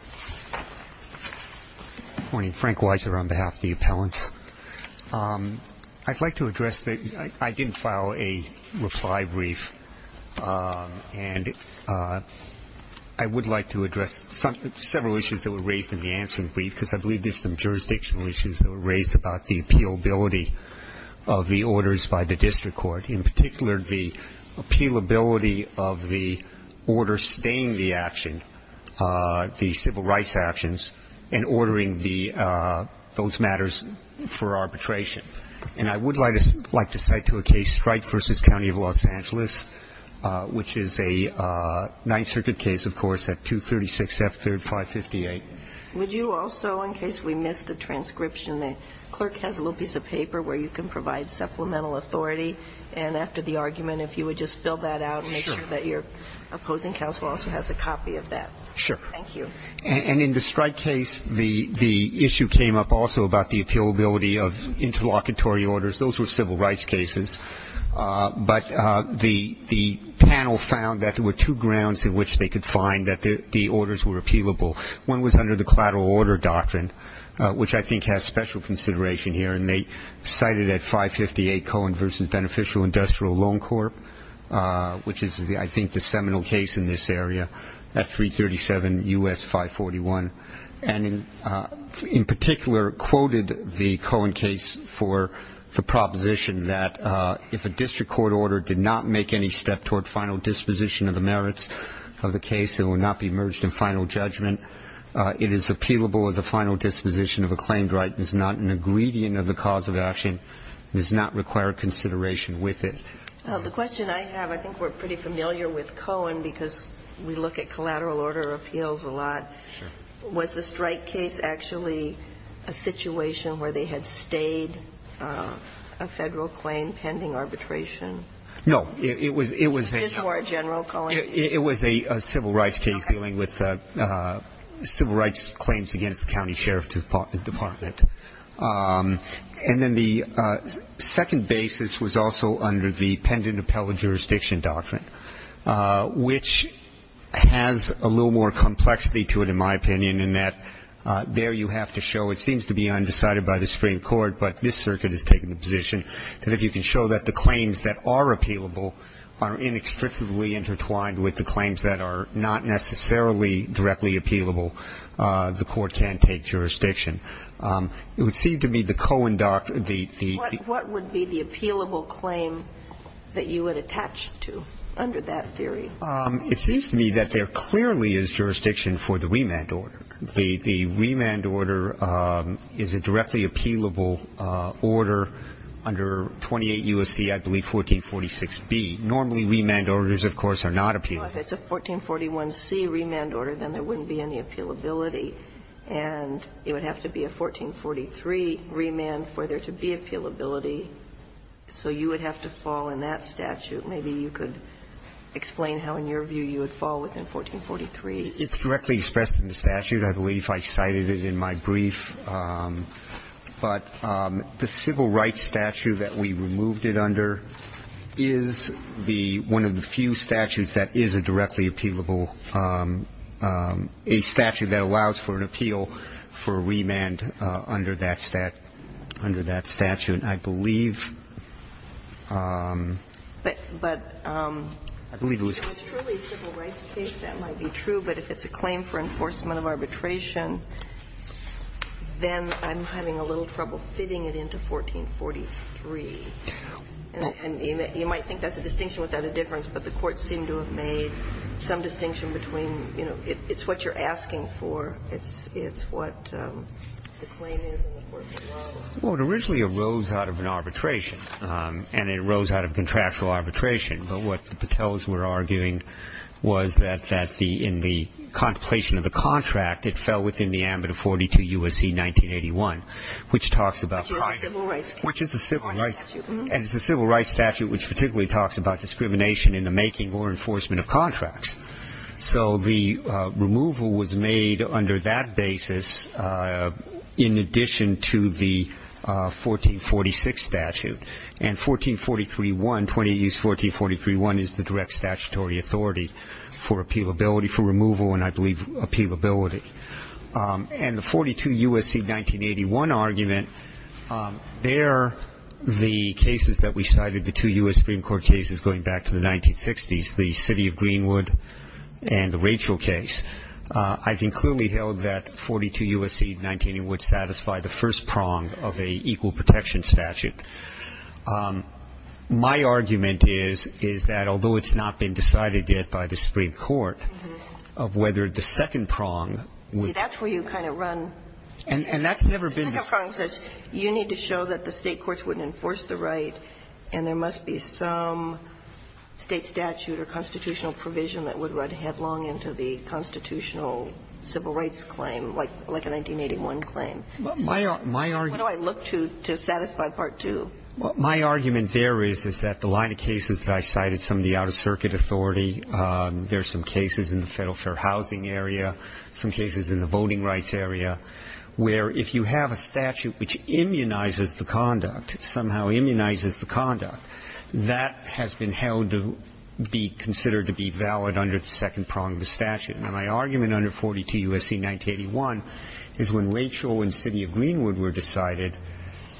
I didn't file a reply brief, and I would like to address several issues that were raised in the answering brief, because I believe there are some jurisdictional issues that were raised about the appealability of the orders by the district court, in particular the appealability of the order staying the action, the civil rights actions, and ordering those matters for arbitration. And I would like to cite to a case Strike v. County of Los Angeles, which is a Ninth Circuit case, of course, at 236 F. 3rd, 558. Would you also, in case we missed the transcription, the clerk has a little piece of paper where you can provide supplemental authority, and after the argument, if you would just fill that out and make sure that your opposing counsel also has a copy of that. Thank you. And in the Strike case, the issue came up also about the appealability of interlocutory orders. Those were civil rights cases. But the panel found that there were two grounds in which they could find that the orders were appealable. One was under the collateral order doctrine, which I think has special consideration here. And they cited at 558 Cohen v. Beneficial Industrial Loan Corp., which is, I think, the seminal case in this area, at 337 U.S. 541. And in particular quoted the Cohen case for the proposition that if a district court order did not make any step toward final disposition of the merits of the case, it would not be merged in final judgment. It is appealable as a final disposition of a claimed right. It is not an ingredient of the cause of action. It does not require consideration with it. The question I have, I think we're pretty familiar with Cohen because we look at collateral order appeals a lot. Sure. Was the Strike case actually a situation where they had stayed a Federal claim pending arbitration? No. It was a general Cohen? It was a civil rights case dealing with civil rights claims against the county sheriff department. And then the second basis was also under the pendant appellate jurisdiction doctrine, which has a little more complexity to it, in my opinion, in that there you have to show it seems to be undecided by the Supreme Court, but this circuit has taken the position that if you can show that the claims that are appealable are inextricably intertwined with the claims that are not necessarily directly appealable, the court can take jurisdiction. It would seem to me the Cohen doctrine, the the. What would be the appealable claim that you would attach to under that theory? It seems to me that there clearly is jurisdiction for the remand order. The remand order is a directly appealable order under 28 U.S.C., I believe, 1446B. Normally, remand orders, of course, are not appealable. Well, if it's a 1441C remand order, then there wouldn't be any appealability. And it would have to be a 1443 remand for there to be appealability. So you would have to fall in that statute. Maybe you could explain how, in your view, you would fall within 1443. It's directly expressed in the statute. I believe I cited it in my brief. But the civil rights statute that we removed it under is the one of the few statutes that is a directly appealable, a statute that allows for an appeal for a remand under that statute, I believe. But I believe it was true. If it's really a civil rights case, that might be true. But if it's a claim for enforcement of arbitration, then I'm having a little trouble fitting it into 1443. And you might think that's a distinction without a difference. But the courts seem to have made some distinction between, you know, it's what you're asking for. It's what the claim is in the court of law. Well, it originally arose out of an arbitration. And it arose out of contractual arbitration. But what the Patels were arguing was that in the contemplation of the contract, it fell within the ambit of 42 U.S.C. 1981, which talks about private. Which is a civil rights statute. And it's a civil rights statute which particularly talks about discrimination in the making or enforcement of contracts. So the removal was made under that basis in addition to the 1446 statute. And 1443.1, 28 U.S. 1443.1 is the direct statutory authority for appealability, for removal, and I believe appealability. And the 42 U.S.C. 1981 argument, they're the cases that we cited, the two U.S. Supreme Court cases going back to the 1960s, the city of Greenwood and the Rachel case. I think clearly held that 42 U.S.C. 1981 would satisfy the first prong of an equal protection statute. My argument is, is that although it's not been decided yet by the Supreme Court of whether the second prong would. See, that's where you kind of run. And that's never been. The second prong says you need to show that the state courts wouldn't enforce the right and there must be some state statute or constitutional provision that would run headlong into the constitutional civil rights claim, like a 1981 claim. My argument. What do I look to to satisfy part two? Well, my argument there is, is that the line of cases that I cited, some of the out-of-circuit authority, there's some cases in the federal fair housing area, some cases in the voting rights area, where if you have a statute which immunizes the conduct, somehow immunizes the conduct, that has been held to be considered to be valid under the second prong of the statute. Now, my argument under 42 U.S.C. 1981 is when Rachel and city of Greenwood were decided,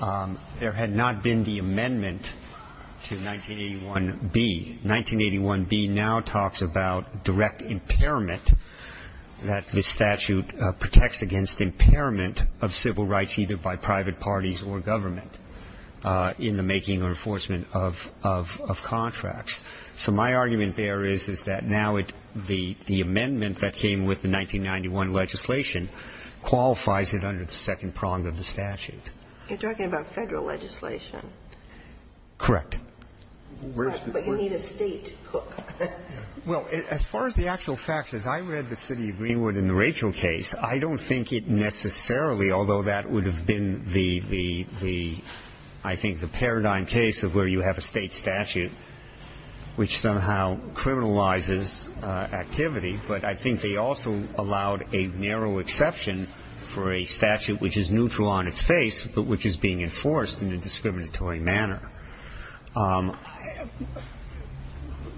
there had not been the amendment to 1981B. 1981B now talks about direct impairment, that the statute protects against impairment of civil rights either by private parties or government in the making or enforcement of contracts. So my argument there is, is that now the amendment that came with the 1991 legislation qualifies it under the second prong of the statute. You're talking about federal legislation. Correct. But you need a state hook. Well, as far as the actual facts, as I read the city of Greenwood in the Rachel case, I don't think it necessarily, although that would have been the, I think, the paradigm case of where you have a state statute which somehow criminalizes activity, but I think they also allowed a narrow exception for a statute which is neutral on its face but which is being enforced in a discriminatory manner.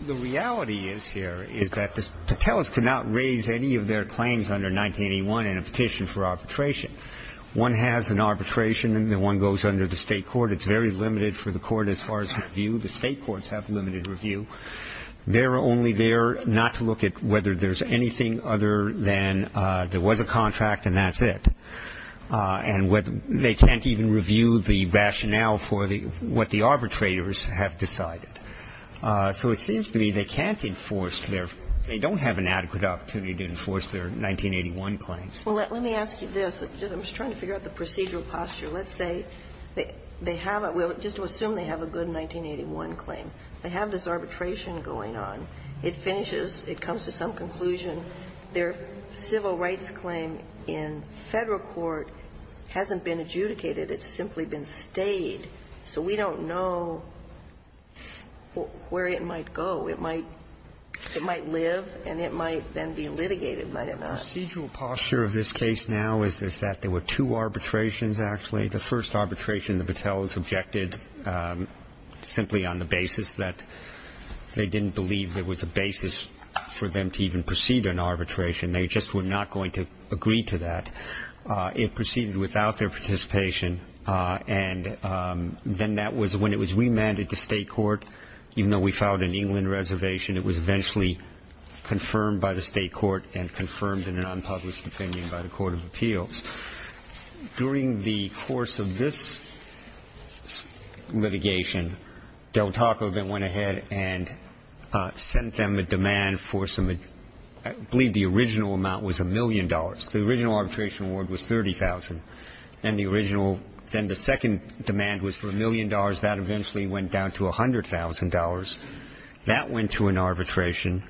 The reality is here is that the Patels could not raise any of their claims under 1981 in a petition for arbitration. One has an arbitration and then one goes under the state court. It's very limited for the court as far as review. The state courts have limited review. They're only there not to look at whether there's anything other than there was a contract and that's it. And whether they can't even review the rationale for the, what the arbitrators have decided. So it seems to me they can't enforce their, they don't have an adequate opportunity to enforce their 1981 claims. Well, let me ask you this. I'm just trying to figure out the procedural posture. Let's say they haven't, well, just to assume they have a good 1981 claim. They have this arbitration going on. It finishes. It comes to some conclusion. Their civil rights claim in Federal court hasn't been adjudicated. It's simply been stayed. So we don't know where it might go. The procedural posture of this case now is that there were two arbitrations, actually. The first arbitration the Battelle's objected simply on the basis that they didn't believe there was a basis for them to even proceed an arbitration. They just were not going to agree to that. It proceeded without their participation. And then that was when it was remanded to state court. Even though we filed an England reservation, it was eventually confirmed by the state court and confirmed in an unpublished opinion by the court of appeals. During the course of this litigation, Del Taco then went ahead and sent them a demand for some, I believe the original amount was a million dollars. The original arbitration award was $30,000. Then the second demand was for a million dollars. That eventually went down to $100,000. That went to an arbitration,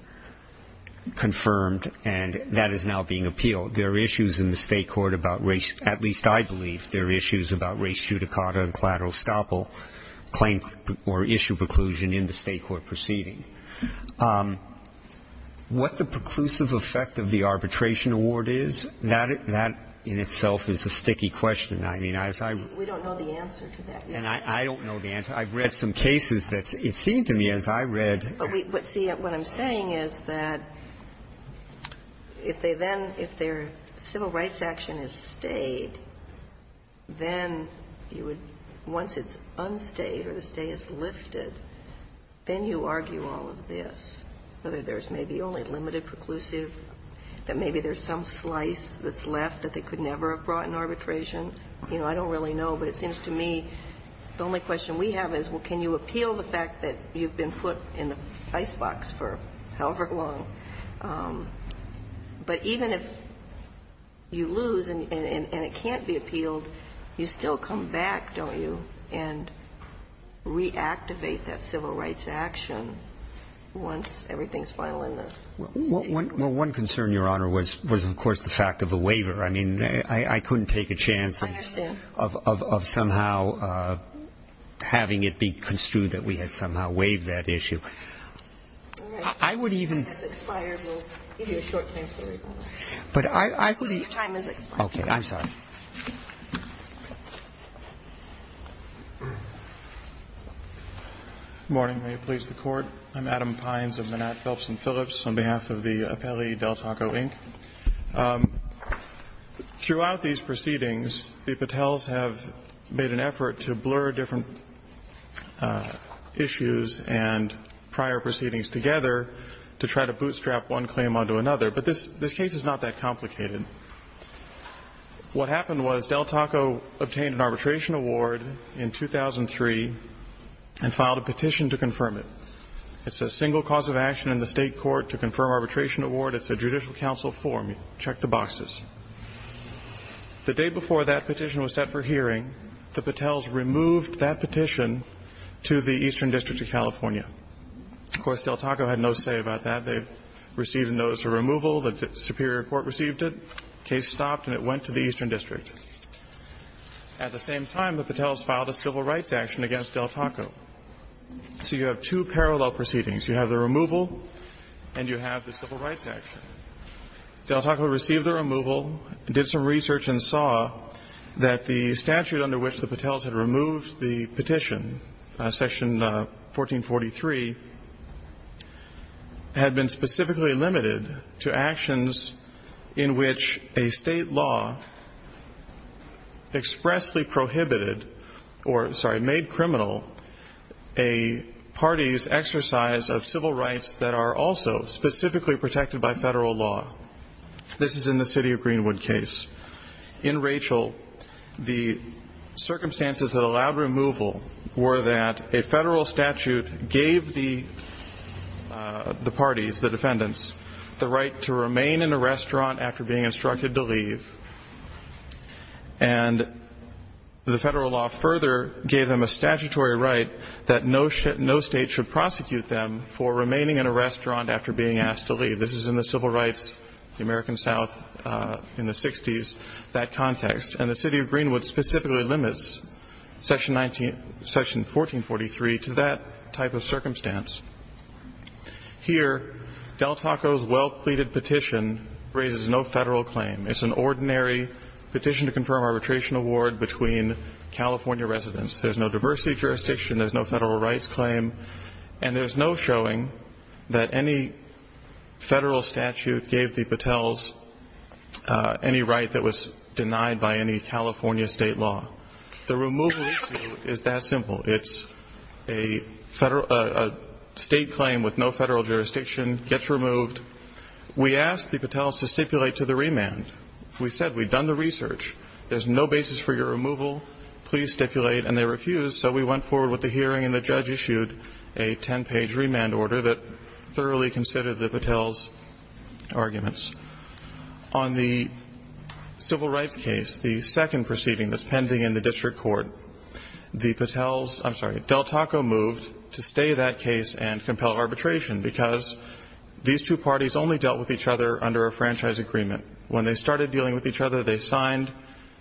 confirmed, and that is now being appealed. There are issues in the state court about race, at least I believe there are issues about race judicata and collateral estoppel claim or issue preclusion in the state court proceeding. What the preclusive effect of the arbitration award is, that in itself is a sticky question. I mean, as I ---- We don't know the answer to that yet. I don't know the answer. I've read some cases that it seemed to me, as I read ---- But see, what I'm saying is that if they then ---- if their civil rights action is stayed, then you would ---- once it's unstayed or the stay is lifted, then you argue all of this, whether there's maybe only limited preclusive, that maybe there's some slice that's left that they could never have brought in arbitration. You know, I don't really know, but it seems to me the only question we have is, well, can you appeal the fact that you've been put in the icebox for however long. But even if you lose and it can't be appealed, you still come back, don't you, and reactivate that civil rights action once everything's final in the state court. Well, one concern, Your Honor, was of course the fact of the waiver. I mean, I couldn't take a chance of somehow having it be construed that we had somehow waived that issue. I would even ---- All right. Time has expired. We'll give you a short time period. But I would even ---- Your time has expired. Okay. I'm sorry. Good morning. May it please the Court. I'm Adam Pines of Manat, Phelps & Phillips. On behalf of the appellee, Del Taco, Inc. Throughout these proceedings, the Patels have made an effort to blur different issues and prior proceedings together to try to bootstrap one claim onto another. But this case is not that complicated. What happened was Del Taco obtained an arbitration award in 2003 and filed a petition to confirm it. It's a single cause of action in the state court to confirm arbitration award. It's a judicial council form. Check the boxes. The day before that petition was set for hearing, the Patels removed that petition to the Eastern District of California. Of course, Del Taco had no say about that. They received a notice of removal. The Superior Court received it. The case stopped and it went to the Eastern District. At the same time, the Patels filed a civil rights action against Del Taco. So you have two parallel proceedings. You have the removal and you have the civil rights action. Del Taco received the removal, did some research and saw that the statute under which the Patels had removed the petition, Section 1443, had been specifically limited to actions in which a state law expressly prohibited or, sorry, made criminal a party's exercise of civil rights that are also specifically protected by federal law. This is in the city of Greenwood case. In Rachel, the circumstances that allowed removal were that a federal statute gave the parties, the defendants, the right to remain in a restaurant after being instructed to leave. And the federal law further gave them a statutory right that no state should prosecute them for remaining in a restaurant after being asked to leave. This is in the civil rights, the American South in the 60s, that context. And the city of Greenwood specifically limits Section 1443 to that type of circumstance. Here, Del Taco's well-pleaded petition raises no federal claim. It's an ordinary petition to confirm arbitration award between California residents. There's no diversity of jurisdiction. There's no federal rights claim. And there's no showing that any federal statute gave the Patels any right that was denied by any California state law. The removal issue is that simple. It's a state claim with no federal jurisdiction gets removed. We asked the Patels to stipulate to the remand. We said we'd done the research. There's no basis for your removal. Please stipulate. And they refused. So we went forward with the hearing, and the judge issued a 10-page remand order that thoroughly considered the Patels' arguments. On the civil rights case, the second proceeding that's pending in the district court, the Patels' ‑‑ I'm sorry, Del Taco moved to stay that case and compel arbitration because these two parties only dealt with each other under a franchise agreement. When they started dealing with each other, they signed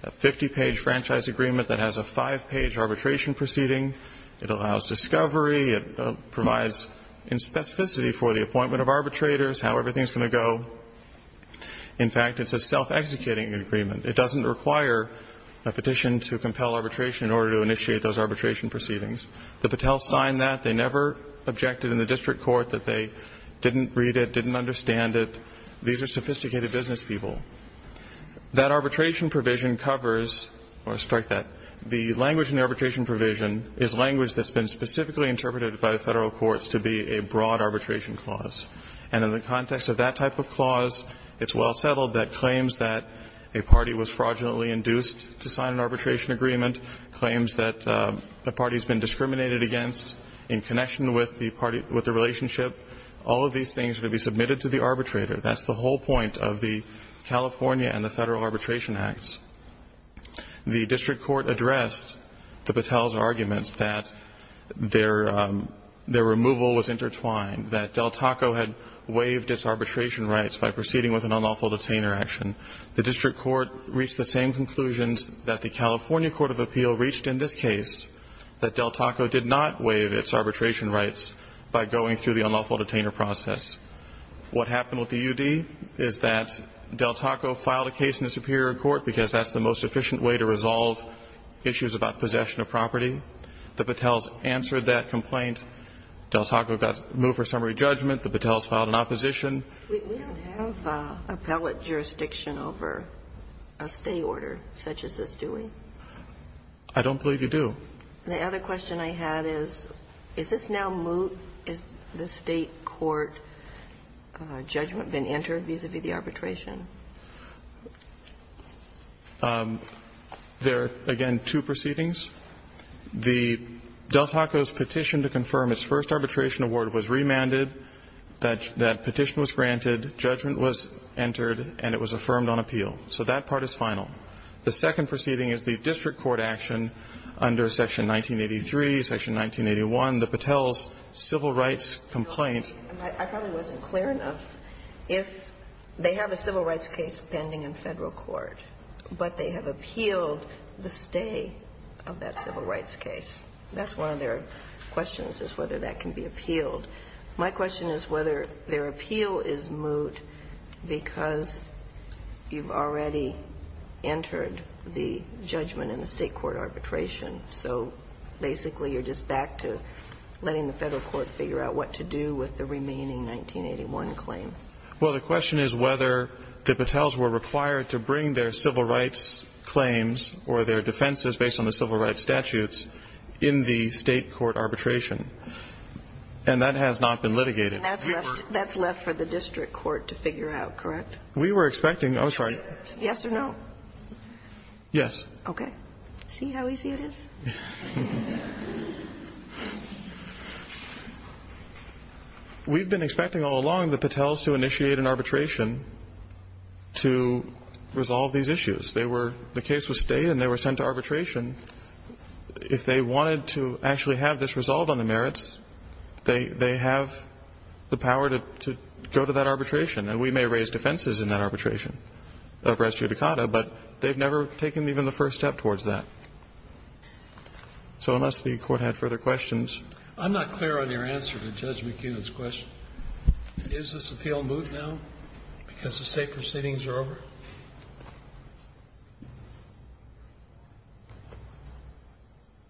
a 50-page franchise agreement that has a five-page arbitration proceeding. It allows discovery. It provides specificity for the appointment of arbitrators, how everything's going to go. In fact, it's a self-executing agreement. It doesn't require a petition to compel arbitration in order to initiate those arbitration proceedings. The Patels signed that. They never objected in the district court that they didn't read it, didn't understand it. These are sophisticated business people. That arbitration provision covers ‑‑ I want to strike that. The language in the arbitration provision is language that's been specifically interpreted by the federal courts to be a broad arbitration clause. And in the context of that type of clause, it's well settled that claims that a party was fraudulently induced to sign an arbitration agreement, claims that a party's been discriminated against in connection with the relationship, all of these things would be submitted to the arbitrator. That's the whole point of the California and the federal arbitration acts. The district court addressed the Patels' arguments that their removal was intertwined, that Del Taco had waived its arbitration rights by proceeding with an unlawful detainer action. The district court reached the same conclusions that the California Court of Appeal reached in this case, that Del Taco did not waive its arbitration rights by going through the unlawful detainer process. What happened with the UD is that Del Taco filed a case in the Superior Court because that's the most efficient way to resolve issues about possession of property. The Patels answered that complaint. Del Taco got moved for summary judgment. The Patels filed an opposition. We don't have appellate jurisdiction over a stay order such as this, do we? I don't believe you do. The other question I had is, is this now moot? Has the State court judgment been entered vis-à-vis the arbitration? There are, again, two proceedings. The Del Taco's petition to confirm its first arbitration award was remanded, that petition was granted, judgment was entered, and it was affirmed on appeal. So that part is final. The second proceeding is the district court action under Section 1983, Section 1981, the Patels' civil rights complaint. I probably wasn't clear enough. They have a civil rights case pending in Federal court, but they have appealed the stay of that civil rights case. That's one of their questions is whether that can be appealed. My question is whether their appeal is moot because you've already entered the judgment in the State court arbitration. So basically you're just back to letting the Federal court figure out what to do with the remaining 1981 claim. Well, the question is whether the Patels were required to bring their civil rights claims or their defenses based on the civil rights statutes in the State court arbitration. And that has not been litigated. And that's left for the district court to figure out, correct? We were expecting, oh, sorry. Yes or no? Yes. Okay. See how easy it is? We've been expecting all along the Patels to initiate an arbitration to resolve these issues. They were the case was stayed and they were sent to arbitration. If they wanted to actually have this resolved on the merits, they have the power to go to that arbitration. And we may raise defenses in that arbitration of res judicata, but they've never taken even the first step towards that. So unless the court had further questions. I'm not clear on your answer to Judge McKeon's question. Is this appeal moved now because the State proceedings are over?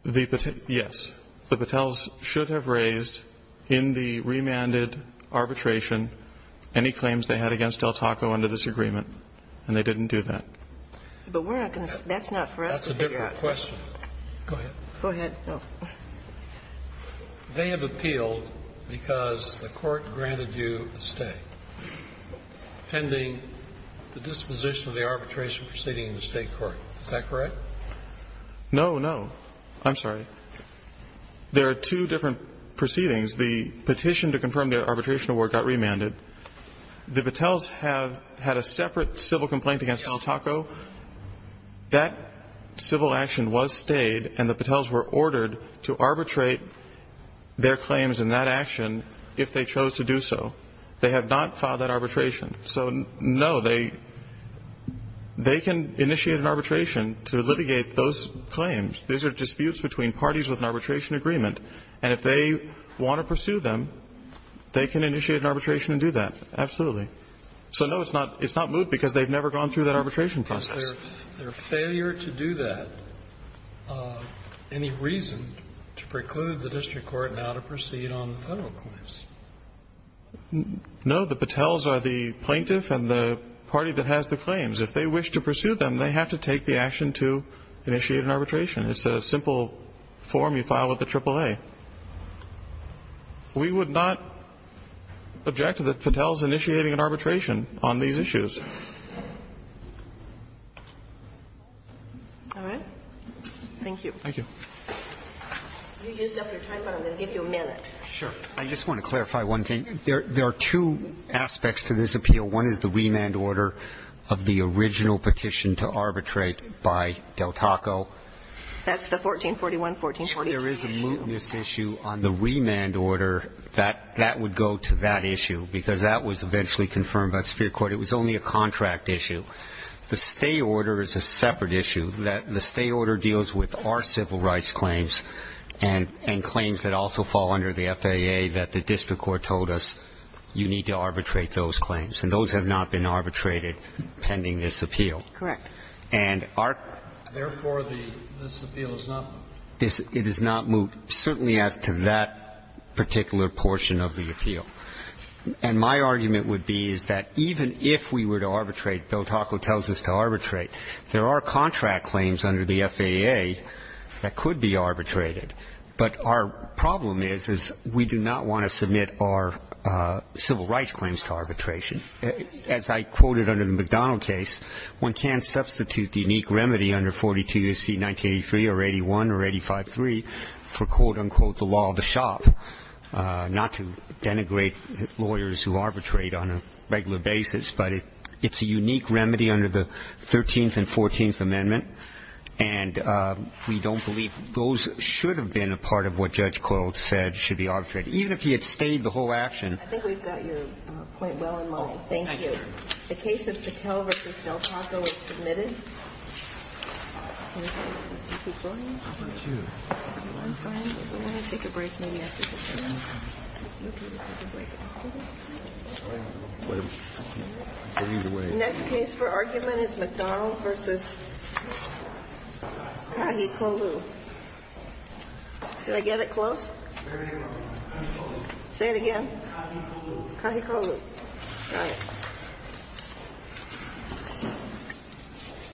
Yes. The Patels should have raised in the remanded arbitration any claims they had against Del Taco under this agreement. And they didn't do that. But we're not going to. That's not for us to figure out. I have a question. Go ahead. Go ahead. They have appealed because the court granted you a stay pending the disposition of the arbitration proceeding in the State court. Is that correct? No, no. I'm sorry. There are two different proceedings. The petition to confirm the arbitration award got remanded. The Patels have had a separate civil complaint against Del Taco. That civil action was stayed and the Patels were ordered to arbitrate their claims in that action if they chose to do so. They have not filed that arbitration. So, no, they can initiate an arbitration to litigate those claims. These are disputes between parties with an arbitration agreement. And if they want to pursue them, they can initiate an arbitration and do that. Absolutely. So, no, it's not moved because they've never gone through that arbitration process. Is their failure to do that any reason to preclude the district court now to proceed on the federal claims? No. The Patels are the plaintiff and the party that has the claims. If they wish to pursue them, they have to take the action to initiate an arbitration. It's a simple form you file with the AAA. We would not object to the Patels initiating an arbitration on these issues. All right. Thank you. Thank you. You used up your time, but I'm going to give you a minute. Sure. I just want to clarify one thing. There are two aspects to this appeal. One is the remand order of the original petition to arbitrate by Del Taco. That's the 1441, 1442. If there is a mootness issue on the remand order, that would go to that issue because that was eventually confirmed by the superior court. It was only a contract issue. The stay order is a separate issue. The stay order deals with our civil rights claims and claims that also fall under the FAA that the district court told us you need to arbitrate those claims. And those have not been arbitrated pending this appeal. Correct. Therefore, this appeal is not moot. It is not moot, certainly as to that particular portion of the appeal. And my argument would be is that even if we were to arbitrate, Del Taco tells us to arbitrate, there are contract claims under the FAA that could be arbitrated. But our problem is, is we do not want to submit our civil rights claims to arbitration. As I quoted under the McDonald case, one can substitute the unique remedy under 42 U.S.C. 1983 or 81 or 853 for, quote, unquote, the law of the shop, not to denigrate lawyers who arbitrate on a regular basis, but it's a unique remedy under the 13th and 14th Amendment, and we don't believe those should have been a part of what Judge Coyle said should be arbitrated, even if he had stayed the whole action. I think we've got your point well in line. Thank you. The case of Pichelle v. Del Taco is submitted. Next case for argument is McDonald v. Kahikolu. Did I get it close? Say it again. Kahikolu. Kahikolu.